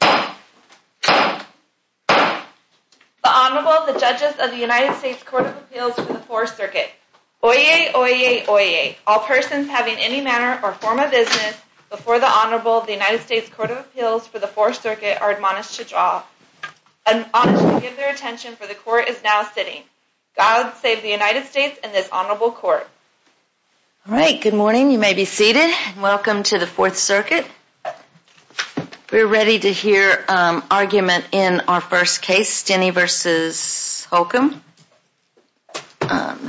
The Honorable, the Judges of the United States Court of Appeals for the Fourth Circuit. Oyez, oyez, oyez. All persons having any manner or form of business before the Honorable of the United States Court of Appeals for the Fourth Circuit are admonished to draw. Admonished to give their attention for the Court is now sitting. God save the United States and this Honorable Court. All right. Good morning. You may be seated. Welcome to the Fourth Circuit. We're ready to hear argument in our first case, Stinnie v. Holcomb.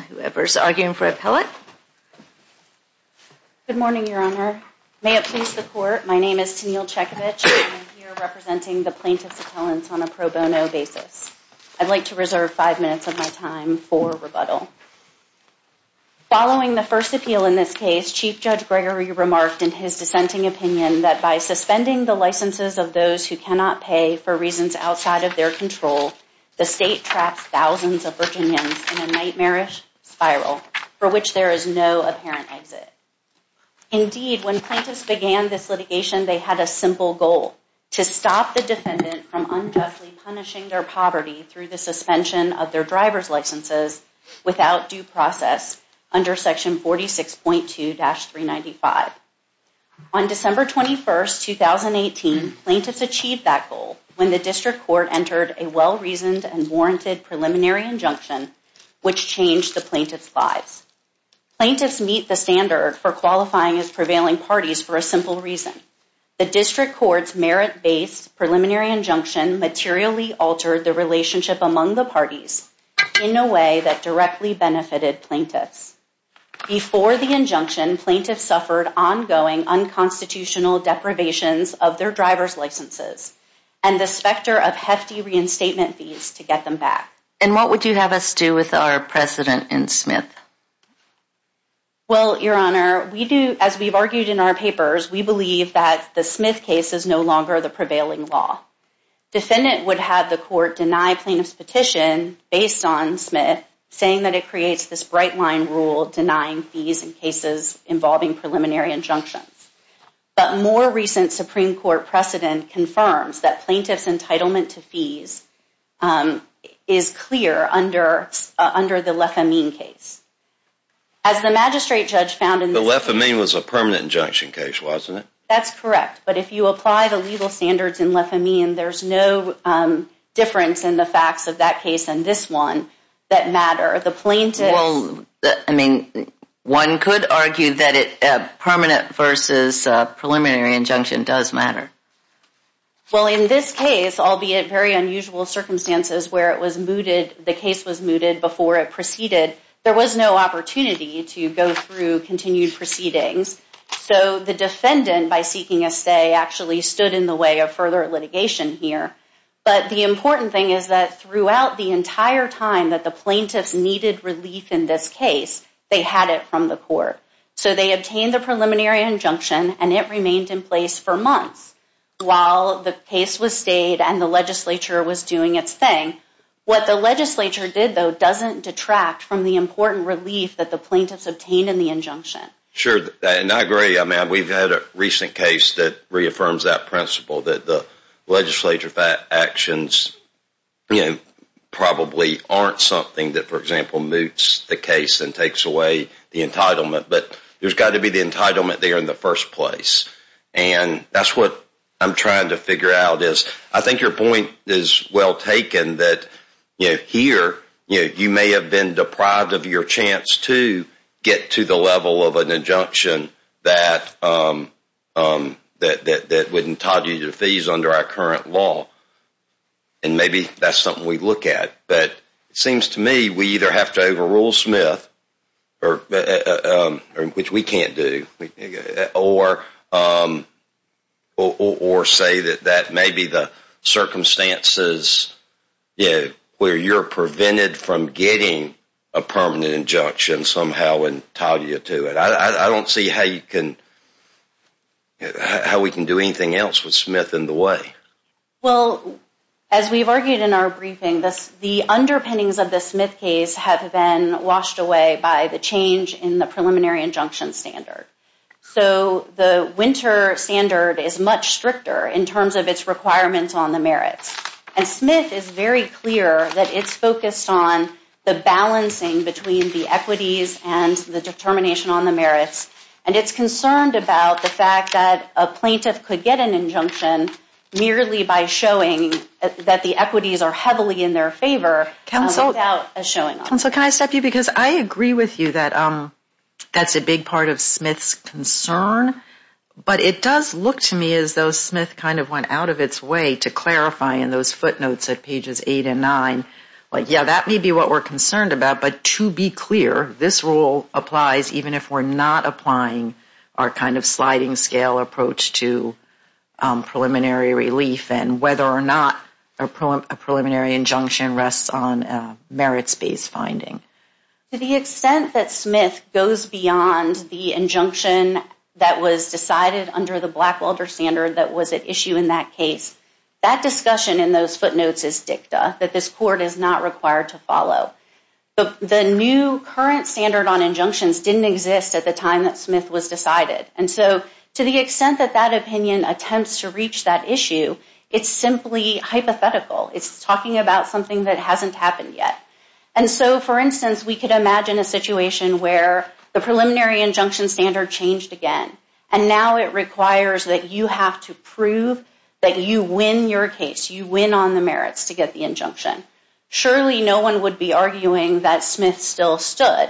Whoever's arguing for appellate. Good morning, Your Honor. May it please the Court, my name is Tenille Chekovich. I'm here representing the plaintiff's appellants on a pro bono basis. I'd like to reserve five minutes of time for rebuttal. Following the first appeal in this case, Chief Judge Gregory remarked in his dissenting opinion that by suspending the licenses of those who cannot pay for reasons outside of their control, the state traps thousands of Virginians in a nightmarish spiral for which there is no apparent exit. Indeed, when plaintiffs began this litigation, they had a simple goal, to stop the defendant from unjustly punishing their poverty through the suspension of their driver's licenses without due process under Section 46.2-395. On December 21, 2018, plaintiffs achieved that goal when the District Court entered a well-reasoned and warranted preliminary injunction which changed the plaintiff's lives. Plaintiffs meet the standard for qualifying as prevailing parties for a simple reason. The District Court's merit-based preliminary injunction materially altered the relationship among the parties in a way that directly benefited plaintiffs. Before the injunction, plaintiffs suffered ongoing unconstitutional deprivations of their driver's licenses and the specter of hefty reinstatement fees to get them back. And what would you have us do with our President and Smith? Well, Your Honor, as we've argued in our papers, we believe that the Smith case is no longer the prevailing law. Defendant would have the court deny plaintiff's petition based on Smith, saying that it creates this bright-line rule denying fees in cases involving preliminary injunctions. But more recent Supreme Court precedent confirms that plaintiff's As the magistrate judge found in the... The lefamine was a permanent injunction case, wasn't it? That's correct. But if you apply the legal standards in lefamine, there's no difference in the facts of that case and this one that matter. The plaintiff... Well, I mean, one could argue that a permanent versus preliminary injunction does matter. Well, in this case, albeit very unusual circumstances where it was mooted... The case was mooted before it proceeded, there was no opportunity to go through continued proceedings. So the defendant, by seeking a stay, actually stood in the way of further litigation here. But the important thing is that throughout the entire time that the plaintiffs needed relief in this case, they had it from the court. So they obtained the preliminary injunction and it remained in place for months. While the case was stayed and the legislature was doing its thing. What the legislature did, though, doesn't detract from the important relief that the plaintiffs obtained in the injunction. Sure, and I agree. I mean, we've had a recent case that reaffirms that principle that the legislature's actions probably aren't something that, for example, moots the case and takes away the entitlement. But there's got to be the entitlement there in the first place. And that's what I'm trying to figure out. I think your point is well taken that here, you may have been deprived of your chance to get to the level of an injunction that would entitle you to fees under our current law. And maybe that's something we look at. But it seems to me we either have to overrule Smith or which we can't do or or say that that may be the circumstances where you're prevented from getting a permanent injunction somehow and tie you to it. I don't see how you can how we can do anything else with Smith in the way. Well, as we've argued in our briefing, the underpinnings of the Smith case have been washed away by the change in the preliminary injunction standard. So the winter standard is much stricter in terms of its requirements on the merits. And Smith is very clear that it's focused on the balancing between the equities and the determination on the merits. And it's concerned about the fact that a plaintiff could get an injunction merely by showing that the equities are heavily in their favor without a showing off. Counsel, can I stop you? Because I agree with you that that's a big part of Smith's concern. But it does look to me as though Smith kind of went out of its way to clarify in those footnotes at pages 8 and 9. Like, yeah, that may be what we're concerned about. But to be clear, this rule applies even if we're not applying our kind of sliding scale approach to preliminary relief and whether or not a preliminary injunction rests on merits-based finding. To the extent that Smith goes beyond the injunction that was decided under the Blackwelder standard that was at issue in that case, that discussion in those footnotes is dicta, that this court is not required to follow. The new current standard on injunctions didn't exist at the time that Smith was decided. And so to the extent that that opinion attempts to reach that issue, it's simply hypothetical. It's talking about something that hasn't happened yet. And so, for instance, we could imagine a situation where the preliminary injunction standard changed again. And now it requires that you have to prove that you win your case. You win on the merits to get the injunction. Surely no one would be arguing that Smith still stood.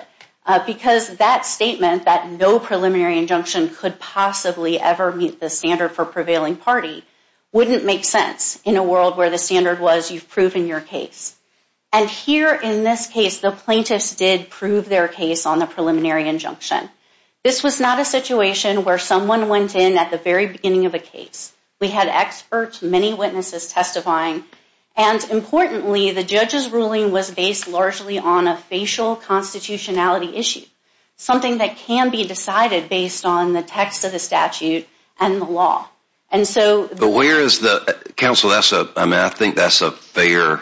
Because that statement, that no preliminary injunction could possibly ever meet the standard for prevailing party, wouldn't make sense in a world where the standard was you've proven your case. And here in this case, the plaintiffs did prove their case on the preliminary injunction. This was not a situation where someone went in at the very beginning of a case. We had experts, many witnesses testifying. And importantly, the judge's ruling was based largely on a facial constitutionality issue. Something that can be decided based on the text of the statute and the law. But where is the, counsel, I think that's a fair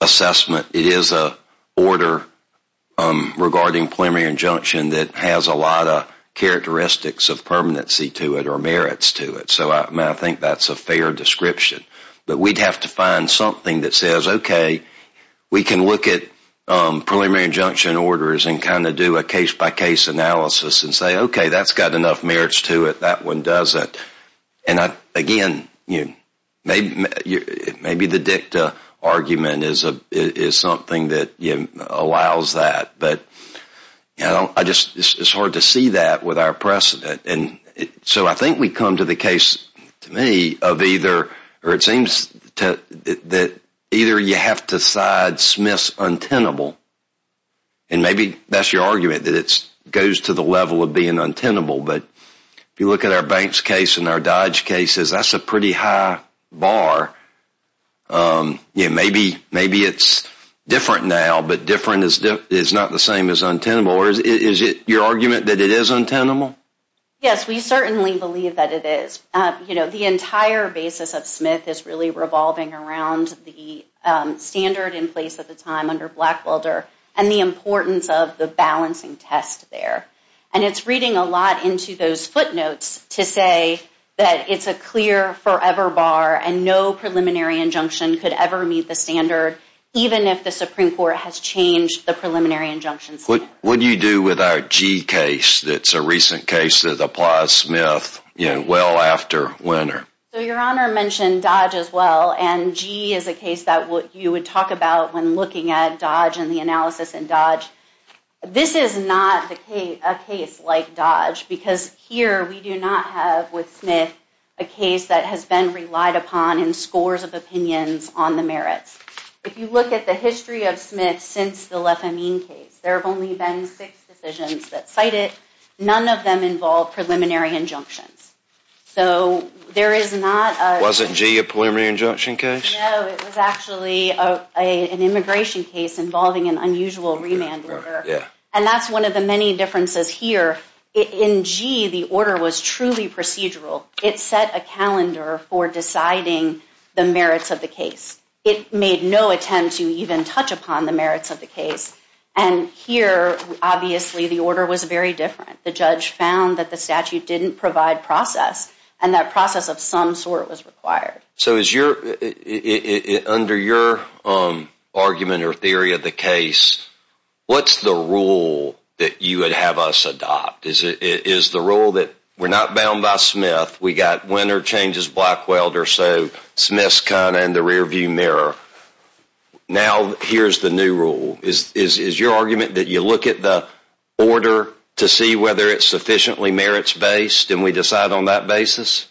assessment. It is a order regarding preliminary injunction that has a lot of characteristics of permanency to it or merits to it. So I think that's a fair description. But we'd have to find something that says, okay, we can look at preliminary injunction orders and kind of do a case-by-case analysis and say, okay, that's got enough merits to it, that one doesn't. And again, maybe the dicta argument is something that allows that. But it's hard to see that with our precedent. So I think we come to the case, to me, of either, or it seems that either you have to side Smith's untenable and maybe that's your argument, that it goes to the level of being untenable. But if you look at our Banks case and our Dodge cases, that's a pretty high bar. Maybe it's different now, but different is not the same as untenable. Is it your argument that it is untenable? Yes, we certainly believe that it is. The entire basis of Smith is really revolving around the standard in place at the time under Blackwelder and the importance of the balancing test there. And it's reading a lot into those footnotes to say that it's a clear forever bar and no preliminary injunction could ever meet the standard, even if the Supreme Court has changed the preliminary injunctions. What do you do with our Gee case that's a recent case that applies Smith well after Winner? Your Honor mentioned Dodge as well, and Gee is a case that you would talk about when looking at Dodge and the analysis in Dodge. This is not a case like Dodge because here we do not have with Smith a case that has been relied upon in scores of opinions on the merits. If you look at the history of Smith since the Lefamine case, there have only been six decisions that cite it. None of them involve preliminary injunctions. So there is not a... Wasn't Gee a preliminary injunction case? No, it was actually an immigration case involving an unusual remand order. And that's one of the many differences here. In Gee, the order was truly procedural. It set a calendar for deciding the merits of the case. It made no attempt to even touch upon the merits of the case. And here, obviously, the order was very different. The judge found that the statute didn't provide process, and that process of some sort was required. So is your... Under your argument or theory of the case, what's the rule that you would have us adopt? Is the rule that we're not bound by Smith, we got Winner changes Blackwelder, so Smith's kind of in the rearview mirror. Now here's the new rule. Is your argument that you look at the order to see whether it's sufficiently merits-based and we decide on that basis?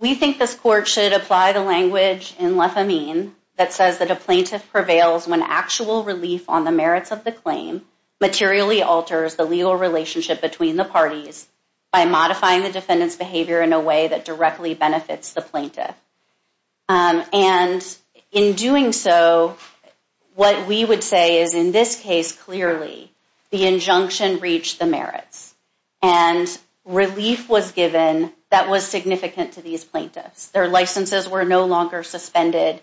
We think this Court should apply the language in Lefamine that says that a plaintiff prevails when actual relief on the merits of the claim materially alters the legal relationship between the parties by modifying the defendant's behavior in a way that directly benefits the plaintiff. And in doing so, what we would say is in this case, clearly, the injunction reached the merits and relief was given that was significant to these plaintiffs. Their licenses were no longer suspended.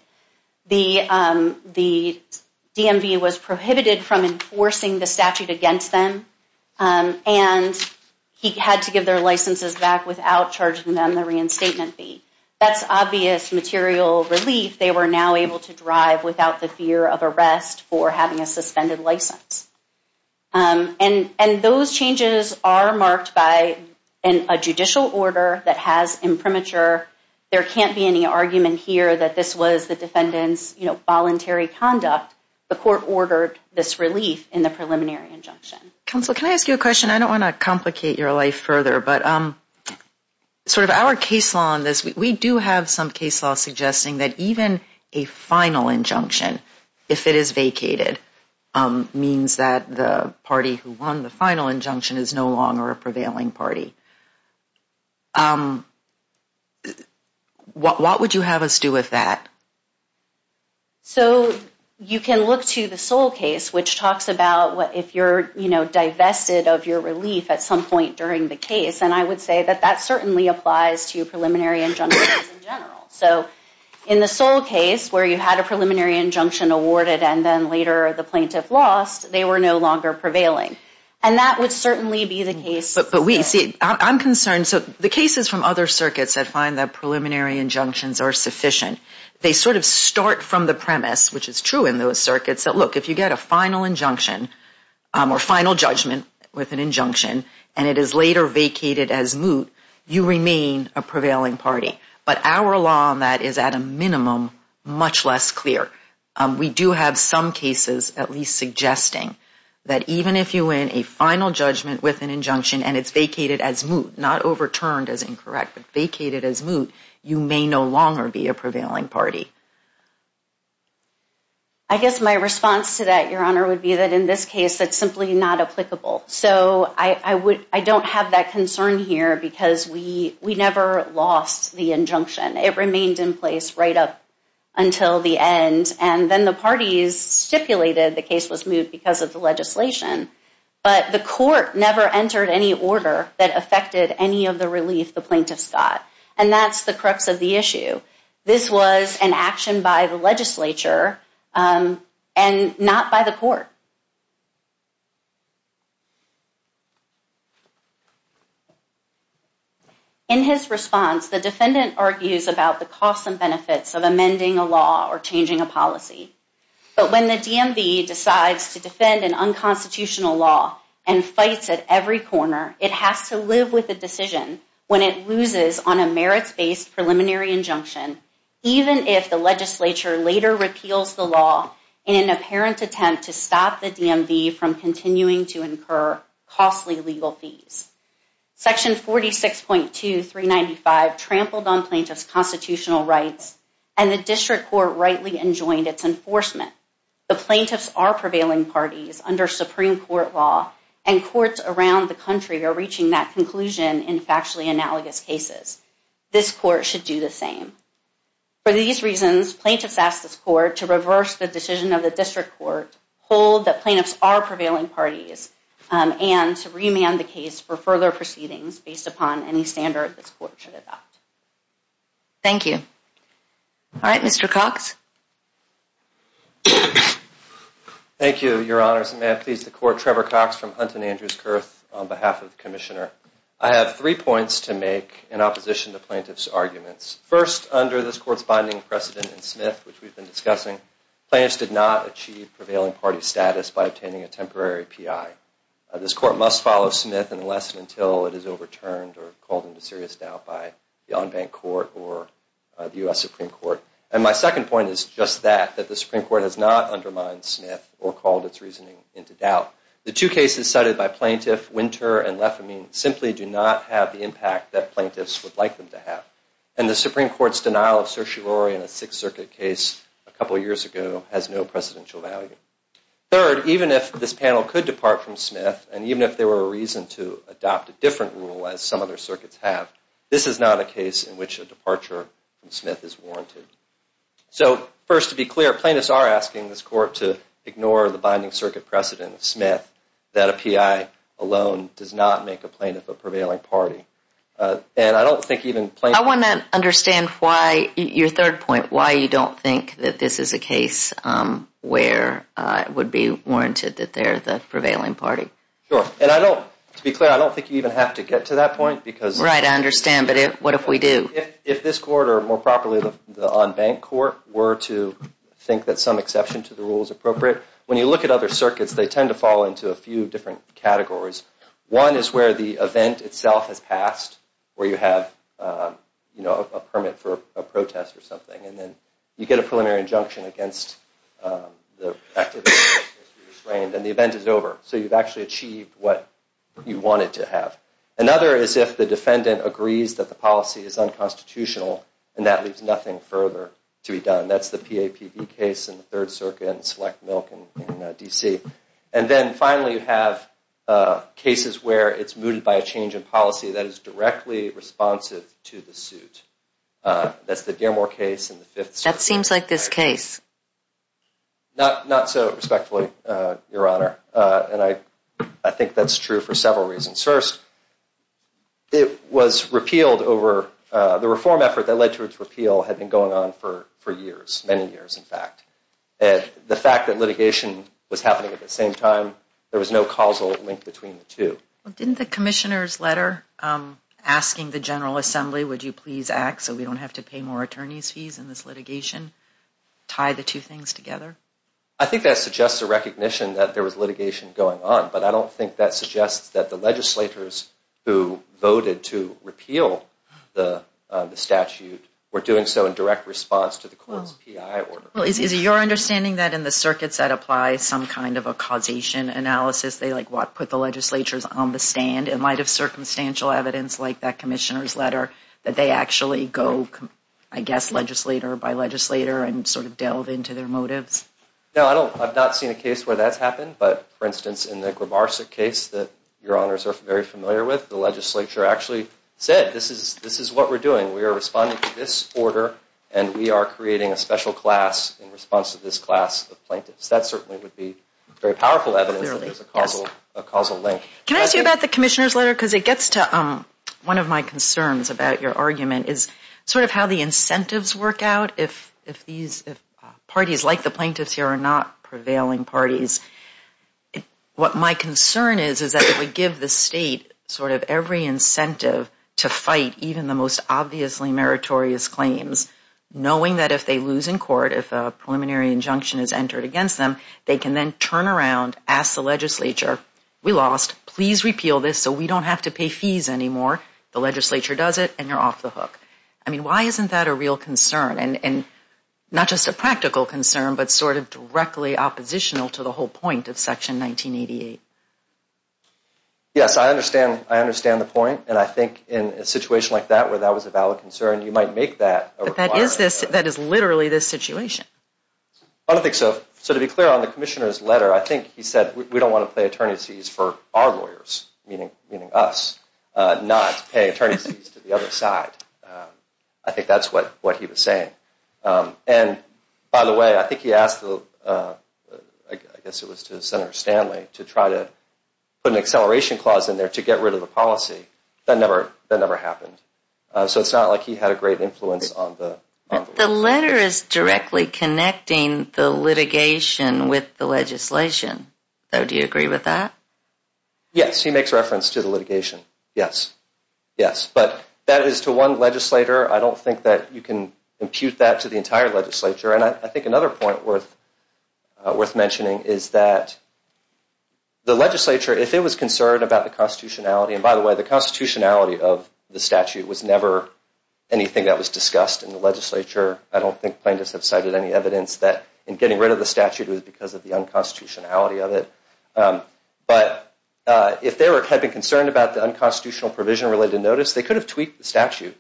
The DMV was prohibited from enforcing the statute against them. And he had to give their licenses back without charging them the reinstatement fee. That's obvious material relief. They were now able to drive without the fear of arrest for having a suspended license. And those changes are marked by a judicial order that has imprimatur. There can't be any argument here that this was the defendant's voluntary conduct. The Court ordered this relief in the preliminary injunction. Counsel, can I ask you a question? I don't want to complicate your life further, but sort of our case law on this, we do have some case law suggesting that even a final injunction, if it is vacated, means that the party who won the final injunction is no longer a prevailing party. What would you have us do with that? So you can look to the sole case, which talks about if you're divested of your relief at some point during the case. And I would say that that certainly applies to preliminary injunctions in general. So in the sole case where you had a preliminary injunction awarded and then later the plaintiff lost, they were no longer prevailing. And that would certainly be the case. But I'm concerned. So the cases from other circuits that find that preliminary injunctions are sufficient, they sort of start from the premise, which is true in those circuits, that look, if you get a final injunction or final judgment with an injunction and it is later vacated as moot, you remain a prevailing party. But our law on that is, at a minimum, much less clear. We do have some cases at least suggesting that even if you win a final judgment with an injunction and it's vacated as moot, not overturned as incorrect, but vacated as moot, you may no longer be a prevailing party. I guess my response to that, Your Honor, would be that in this case that's simply not applicable. So I don't have that concern here because we never lost the injunction. It remained in place right up until the end. And then the parties stipulated the case was moot because of the legislation. But the court never entered any order that affected any of the relief the plaintiffs got, and that's the crux of the issue. This was an action by the legislature and not by the court. In his response, the defendant argues about the costs and benefits But when the DMV decides to defend an unconstitutional law and fights at every corner, it has to live with the decision when it loses on a merits-based preliminary injunction, even if the legislature later repeals the law in an apparent attempt to stop the DMV from continuing to incur costly legal fees. Section 46.2395 trampled on plaintiffs' constitutional rights, and the district court rightly enjoined its enforcement. The plaintiffs are prevailing parties under Supreme Court law, and courts around the country are reaching that conclusion in factually analogous cases. This court should do the same. For these reasons, plaintiffs ask this court to reverse the decision of the district court, hold that plaintiffs are prevailing parties, and to remand the case for further proceedings based upon any standard this court should adopt. Thank you. All right, Mr. Cox. Thank you, Your Honors. And may I please the court, Trevor Cox from Hunt and Andrews Kurth, on behalf of the Commissioner. I have three points to make in opposition to plaintiffs' arguments. First, under this court's binding precedent in Smith, which we've been discussing, plaintiffs did not achieve prevailing party status by obtaining a temporary PI. This court must follow Smith in the lesson until it is overturned or called into serious doubt by the on-bank court or the U.S. Supreme Court. And my second point is just that, that the Supreme Court has not undermined Smith or called its reasoning into doubt. The two cases cited by plaintiff, Winter and Lefamine, simply do not have the impact that plaintiffs would like them to have. And the Supreme Court's denial of certiorari in a Sixth Circuit case a couple years ago has no precedential value. Third, even if this panel could depart from Smith, and even if there were a reason to adopt a different rule as some other circuits have, this is not a case in which a departure from Smith is warranted. So, first, to be clear, plaintiffs are asking this court to ignore the binding circuit precedent in Smith that a PI alone does not make a plaintiff a prevailing party. And I don't think even plaintiffs... I want to understand why, your third point, why you don't think that this is a case where it would be warranted that they're the prevailing party. Sure, and I don't... To be clear, I don't think you even have to get to that point because... Right, I understand, but what if we do? If this court, or more properly, the on-bank court, were to think that some exception to the rule is appropriate, when you look at other circuits, they tend to fall into a few different categories. One is where the event itself has passed, where you have, you know, a permit for a protest or something, and then you get a preliminary injunction against the activity and the event is over, so you've actually achieved what you wanted to have. Another is if the defendant agrees that the policy is unconstitutional, and that leaves nothing further to be done. That's the PAPB case in the Third Circuit and Select Milk in D.C. And then, finally, you have cases where it's mooted by a change in policy that is directly responsive to the suit. That's the Dearmore case in the Fifth Circuit. That seems like this case. Not so respectfully, Your Honor. And I think that's true for several reasons. First, it was repealed over... The reform effort that led to its repeal had been going on for years, many years, in fact. The fact that litigation was happening at the same time, there was no causal link between the two. Well, didn't the commissioner's letter asking the General Assembly, would you please act so we don't have to pay more attorney's fees in this litigation, tie the two things together? I think that suggests a recognition that there was litigation going on, but I don't think that suggests that the legislators who voted to repeal the statute were doing so in direct response to the court's PI order. Well, is it your understanding that in the circuits that apply some kind of a causation analysis, they put the legislatures on the stand in light of circumstantial evidence like that commissioner's letter, that they actually go, I guess, legislator by legislator and sort of delve into their motives? No, I've not seen a case where that's happened, but for instance, in the Grimarsuk case that Your Honors are very familiar with, the legislature actually said, this is what we're doing. We are responding to this order, and we are creating a special class in response to this class of plaintiffs. That certainly would be very powerful evidence that there's a causal link. Can I ask you about the commissioner's letter? Because it gets to one of my concerns about your argument is sort of how the incentives work out if parties like the plaintiffs here are not prevailing parties. What my concern is is that if we give the state sort of every incentive to fight even the most obviously meritorious claims, knowing that if they lose in court, if a preliminary injunction is entered against them, they can then turn around, ask the legislature, we lost, please repeal this so we don't have to pay fees anymore. The legislature does it, and you're off the hook. I mean, why isn't that a real concern and not just a practical concern but sort of directly oppositional to the whole point of Section 1988? Yes, I understand the point, and I think in a situation like that where that was a valid concern, you might make that a requirement. But that is literally this situation. I don't think so. So to be clear, on the commissioner's letter, I think he said, we don't want to pay attorney's fees for our lawyers, meaning us, not pay attorney's fees to the other side. I think that's what he was saying. And by the way, I think he asked, I guess it was to Senator Stanley, to try to put an acceleration clause in there to get rid of the policy. That never happened. So it's not like he had a great influence on the law. The letter is directly connecting the litigation with the legislation. Do you agree with that? Yes, he makes reference to the litigation. Yes, yes. But that is to one legislator. I don't think that you can impute that to the entire legislature. And I think another point worth mentioning is that the legislature, if it was concerned about the constitutionality, and by the way, the constitutionality of the statute was never anything that was discussed in the legislature. I don't think plaintiffs have cited any evidence that in getting rid of the statute was because of the unconstitutionality of it. But if they had been concerned about the unconstitutional provision related to notice, they could have tweaked the statute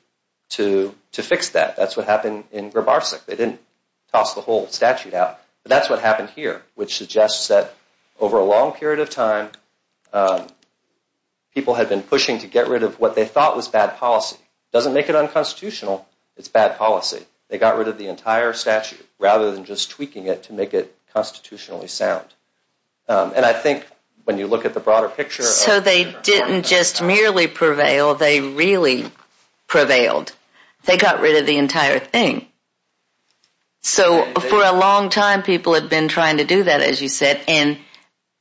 to fix that. That's what happened in Grabarsk. They didn't toss the whole statute out. But that's what happened here, which suggests that over a long period of time, people had been pushing to get rid of what they thought was bad policy. It doesn't make it unconstitutional. It's bad policy. They got rid of the entire statute rather than just tweaking it to make it constitutionally sound. And I think when you look at the broader picture. So they didn't just merely prevail, they really prevailed. They got rid of the entire thing. So for a long time, people had been trying to do that, as you said, and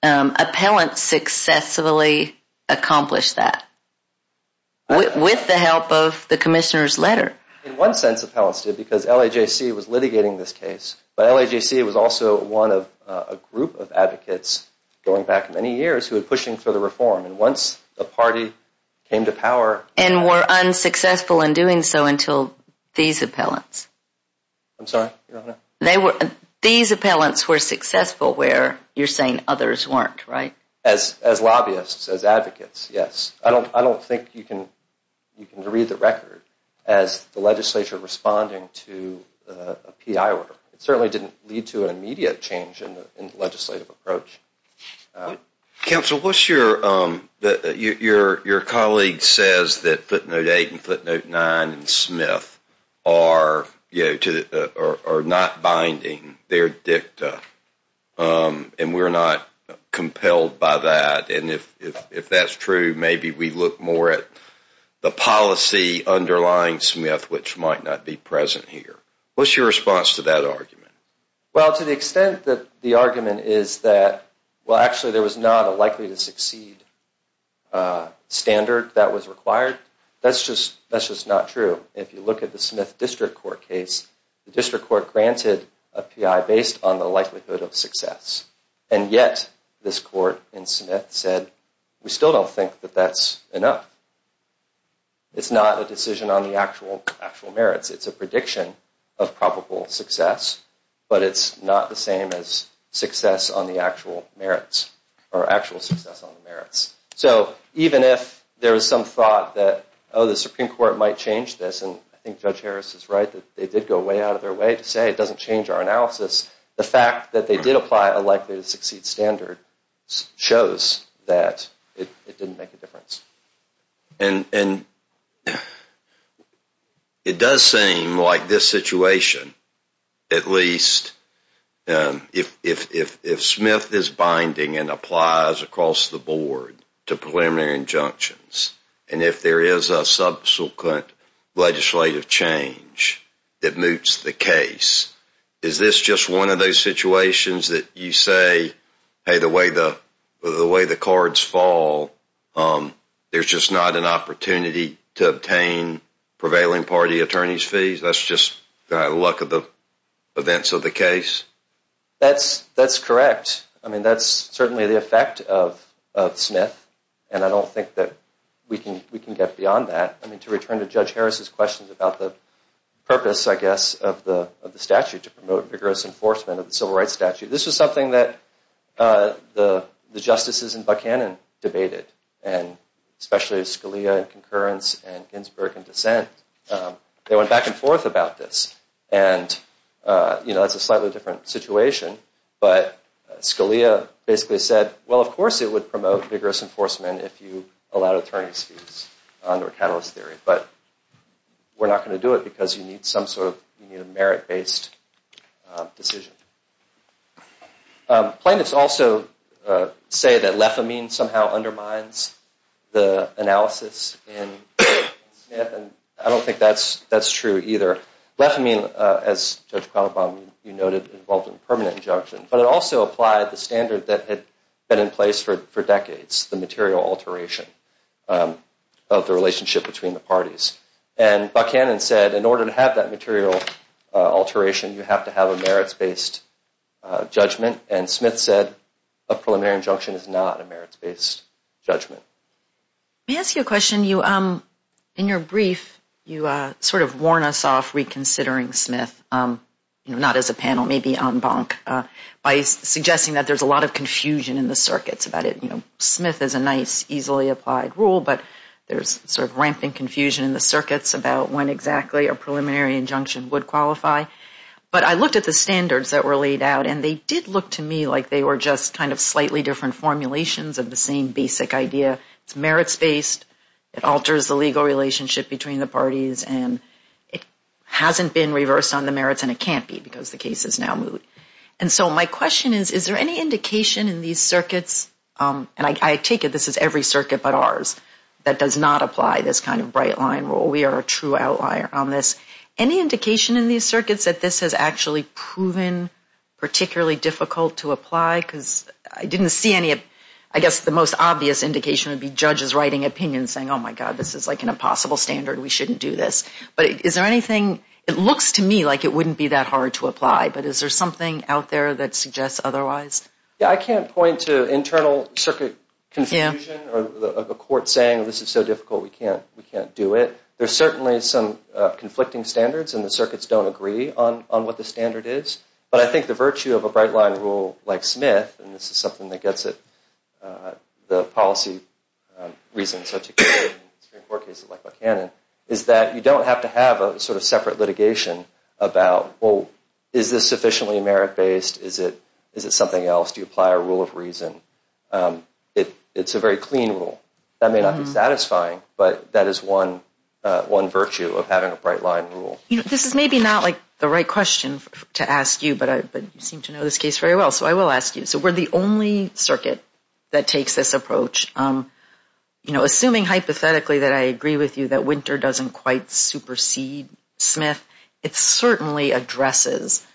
appellants successfully accomplished that. With the help of the commissioner's letter. In one sense, appellants did, because LAJC was litigating this case. But LAJC was also one of a group of advocates going back many years who were pushing for the reform. And once the party came to power. And were unsuccessful in doing so until these appellants. I'm sorry? These appellants were successful where you're saying others weren't, right? As lobbyists, as advocates, yes. I don't think you can read the record as the legislature responding to a P.I. order. It certainly didn't lead to an immediate change in the legislative approach. Counsel, what's your colleague says that footnote eight and footnote nine and Smith are not binding their dicta. And we're not compelled by that. And if that's true, maybe we look more at the policy underlying Smith, which might not be present here. What's your response to that argument? Well, to the extent that the argument is that, well, actually, there was not a likely to succeed standard that was required. That's just not true. If you look at the Smith district court case, the district court granted a P.I. based on the likelihood of success. And yet this court in Smith said, we still don't think that that's enough. It's not a decision on the actual merits. It's a prediction of probable success, but it's not the same as success on the actual merits or actual success on the merits. So even if there was some thought that, oh, the Supreme Court might change this, and I think Judge Harris is right, that they did go way out of their way to say it doesn't change our analysis. The fact that they did apply a likely to succeed standard shows that it didn't make a difference. And it does seem like this situation, at least, if Smith is binding and applies across the board to preliminary injunctions, and if there is a subsequent legislative change that moots the case, is this just one of those situations that you say, hey, the way the cards fall, there's just not an opportunity to obtain prevailing party attorneys' fees? That's just the luck of the events of the case? That's correct. I mean, that's certainly the effect of Smith, and I don't think that we can get beyond that. To return to Judge Harris's question about the purpose, I guess, of the statute, to promote vigorous enforcement of the civil rights statute, this was something that the justices in Buckhannon debated, and especially Scalia in concurrence and Ginsburg in dissent. They went back and forth about this, and that's a slightly different situation. But Scalia basically said, well, of course it would promote vigorous enforcement if you allowed attorneys' fees under a catalyst theory, but we're not going to do it because you need some sort of merit-based decision. Plaintiffs also say that lefamine somehow undermines the analysis in Smith, and I don't think that's true either. Lefamine, as Judge Quammen noted, involved in permanent injunction, but it also applied the standard that had been in place for decades, the material alteration of the relationship between the parties. And Buckhannon said in order to have that material alteration, you have to have a merits-based judgment, and Smith said a preliminary injunction is not a merits-based judgment. May I ask you a question? In your brief, you sort of warn us off reconsidering Smith, not as a panel, maybe en banc, by suggesting that there's a lot of confusion in the circuits about it. Smith is a nice, easily applied rule, but there's sort of rampant confusion in the circuits about when exactly a preliminary injunction would qualify. But I looked at the standards that were laid out, and they did look to me like they were just kind of slightly different formulations of the same basic idea. It's merits-based, it alters the legal relationship between the parties, and it hasn't been reversed on the merits, and it can't be because the case is now moot. And so my question is, is there any indication in these circuits, and I take it this is every circuit but ours, that does not apply this kind of bright line rule? We are a true outlier on this. Any indication in these circuits that this has actually proven particularly difficult to apply? Because I didn't see any of, I guess, the most obvious indication would be judges writing opinions saying, oh, my God, this is like an impossible standard, we shouldn't do this. But is there anything, it looks to me like it wouldn't be that hard to apply, but is there something out there that suggests otherwise? Yeah, I can't point to internal circuit confusion or a court saying this is so difficult we can't do it. There's certainly some conflicting standards, and the circuits don't agree on what the standard is. But I think the virtue of a bright line rule like Smith, and this is something that gets at the policy reasons, like Buchanan, is that you don't have to have a sort of separate litigation about, well, is this sufficiently merit-based? Is it something else? Do you apply a rule of reason? It's a very clean rule. That may not be satisfying, but that is one virtue of having a bright line rule. This is maybe not like the right question to ask you, but you seem to know this case very well, so I will ask you. So we're the only circuit that takes this approach. Assuming hypothetically that I agree with you that Winter doesn't quite supersede Smith, it certainly addresses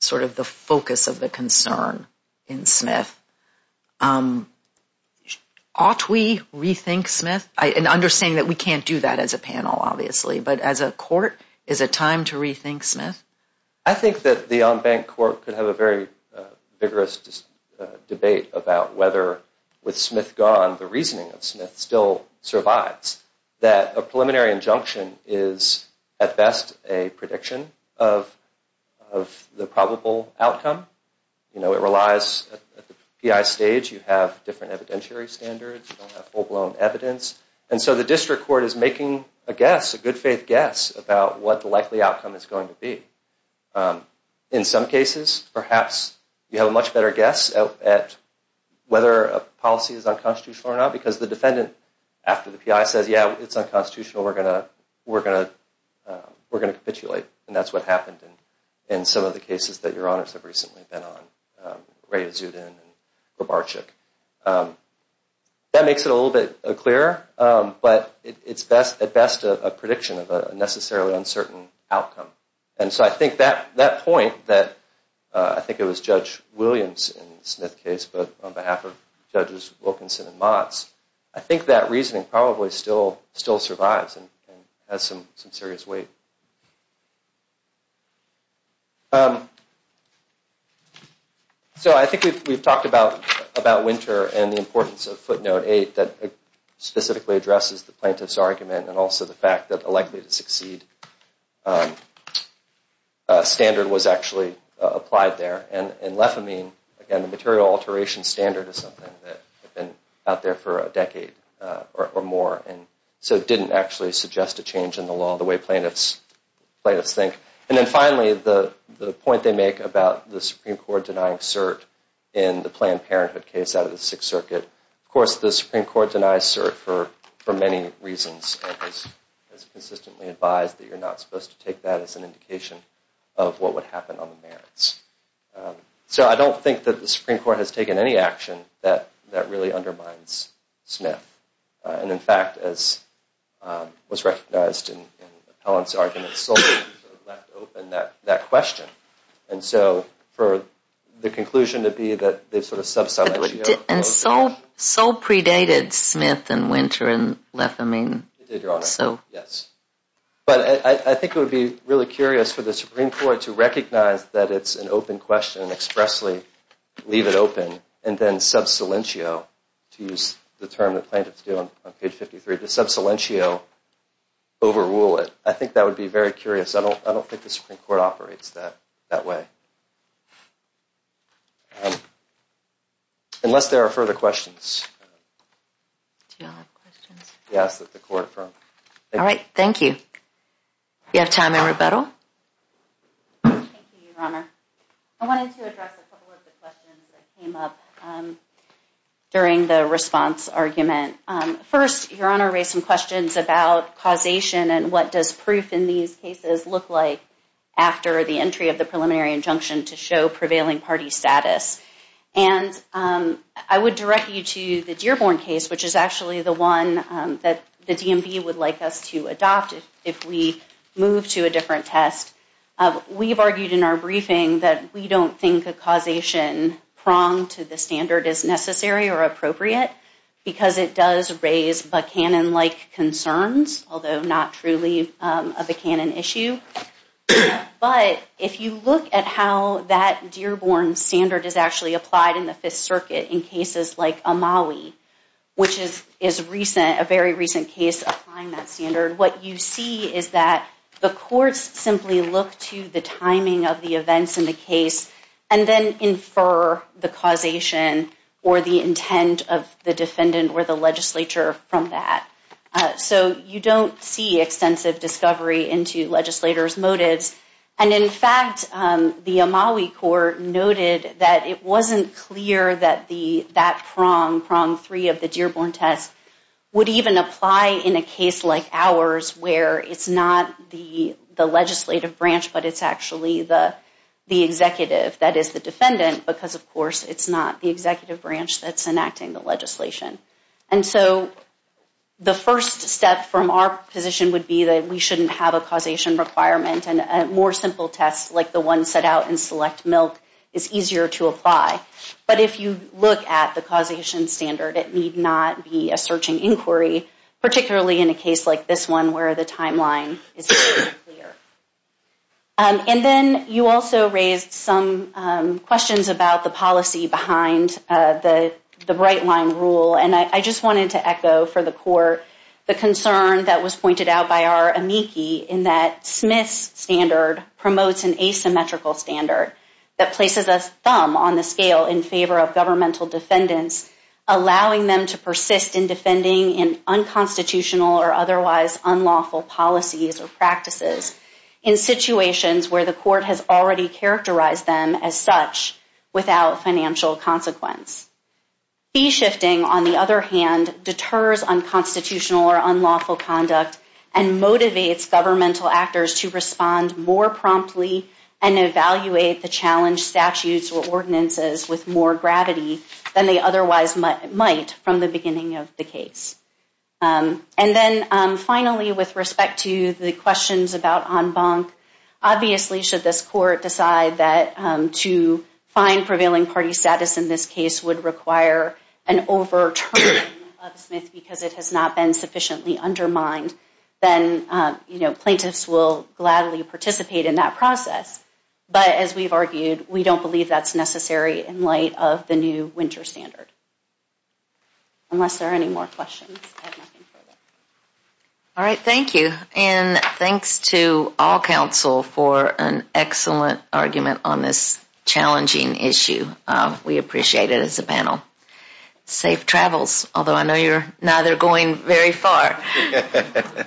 sort of the focus of the concern in Smith. Ought we rethink Smith? And understanding that we can't do that as a panel, obviously, but as a court, is it time to rethink Smith? I think that the on-bank court could have a very vigorous debate about whether with Smith gone, the reasoning of Smith still survives, that a preliminary injunction is at best a prediction of the probable outcome. It relies at the PI stage. You have different evidentiary standards. You don't have full-blown evidence. And so the district court is making a guess, a good-faith guess, about what the likely outcome is going to be. In some cases, perhaps you have a much better guess at whether a policy is unconstitutional or not, because the defendant, after the PI, says, yeah, it's unconstitutional. We're going to capitulate. And that's what happened in some of the cases that Your Honors have recently been on, Rhea Zudin and Gorbachev. That makes it a little bit clearer, but it's at best a prediction of a necessarily uncertain outcome. And so I think that point that I think it was Judge Williams in the Smith case, but on behalf of Judges Wilkinson and Motz, I think that reasoning probably still survives and has some serious weight. So I think we've talked about Winter and the importance of footnote eight that specifically addresses the plaintiff's argument and also the fact that the likely-to-succeed standard was actually applied there. And lefamine, again, the material alteration standard is something that has been out there for a decade or more, so it didn't actually suggest a change in the law the way plaintiffs think. And then finally, the point they make about the Supreme Court denying cert in the Planned Parenthood case out of the Sixth Circuit, of course, the Supreme Court denies cert for many reasons and has consistently advised that you're not supposed to take that as an indication of what would happen on the merits. So I don't think that the Supreme Court has taken any action that really undermines Smith. And, in fact, as was recognized in Helen's argument, Sullivan sort of left open that question. And so for the conclusion to be that they've sort of subsided... And so predated Smith and Winter and lefamine. It did, Your Honor, yes. But I think it would be really curious for the Supreme Court to recognize that it's an open question and expressly leave it open and then sub silentio, to use the term that plaintiffs do on page 53, to sub silentio, overrule it. I think that would be very curious. I don't think the Supreme Court operates that way. Unless there are further questions. Do you have questions? Yes. All right. Thank you. We have time for rebuttal. Thank you, Your Honor. I wanted to address a couple of the questions that came up during the response argument. First, Your Honor raised some questions about causation and what does proof in these cases look like after the entry of the preliminary injunction to show prevailing party status. And I would direct you to the Dearborn case, which is actually the one that the DMV would like us to adopt if we move to a different test. We've argued in our briefing that we don't think a causation pronged to the standard is necessary or appropriate, because it does raise Buchanan-like concerns, although not truly a Buchanan issue. But if you look at how that Dearborn standard is actually applied in the Fifth Circuit in cases like Amawi, which is a very recent case applying that standard, what you see is that the courts simply look to the timing of the events in the case and then infer the causation or the intent of the defendant or the legislature from that. So you don't see extensive discovery into legislators' motives. And in fact, the Amawi court noted that it wasn't clear that that prong, prong three of the Dearborn test, would even apply in a case like ours where it's not the legislative branch, but it's actually the executive, that is the defendant, because of course it's not the executive branch that's enacting the legislation. And so the first step from our position would be that we shouldn't have a causation requirement, and more simple tests like the one set out in Select Milk is easier to apply. But if you look at the causation standard, it need not be a searching inquiry, particularly in a case like this one where the timeline is very clear. And then you also raised some questions about the policy behind the And I just wanted to echo for the court, the concern that was pointed out by our amici in that Smith's standard promotes an asymmetrical standard that places a thumb on the scale in favor of governmental defendants, allowing them to persist in defending in unconstitutional or otherwise unlawful policies or practices in situations where the court has already characterized them as such without financial consequence. Fee shifting, on the other hand, deters unconstitutional or unlawful conduct and motivates governmental actors to respond more promptly and evaluate the challenge statutes or ordinances with more gravity than they otherwise might from the beginning of the case. And then finally, with respect to the questions about en banc, obviously should this court decide that to find prevailing party status in this case would require an overturn of Smith because it has not been sufficiently undermined, then, you know, plaintiffs will gladly participate in that process. But as we've argued, we don't believe that's necessary in light of the new winter standard. Unless there are any more questions. All right, thank you. And thanks to all counsel for an excellent argument on this challenging issue. We appreciate it as a panel. Safe travels, although I know you're neither going very far. Thank you.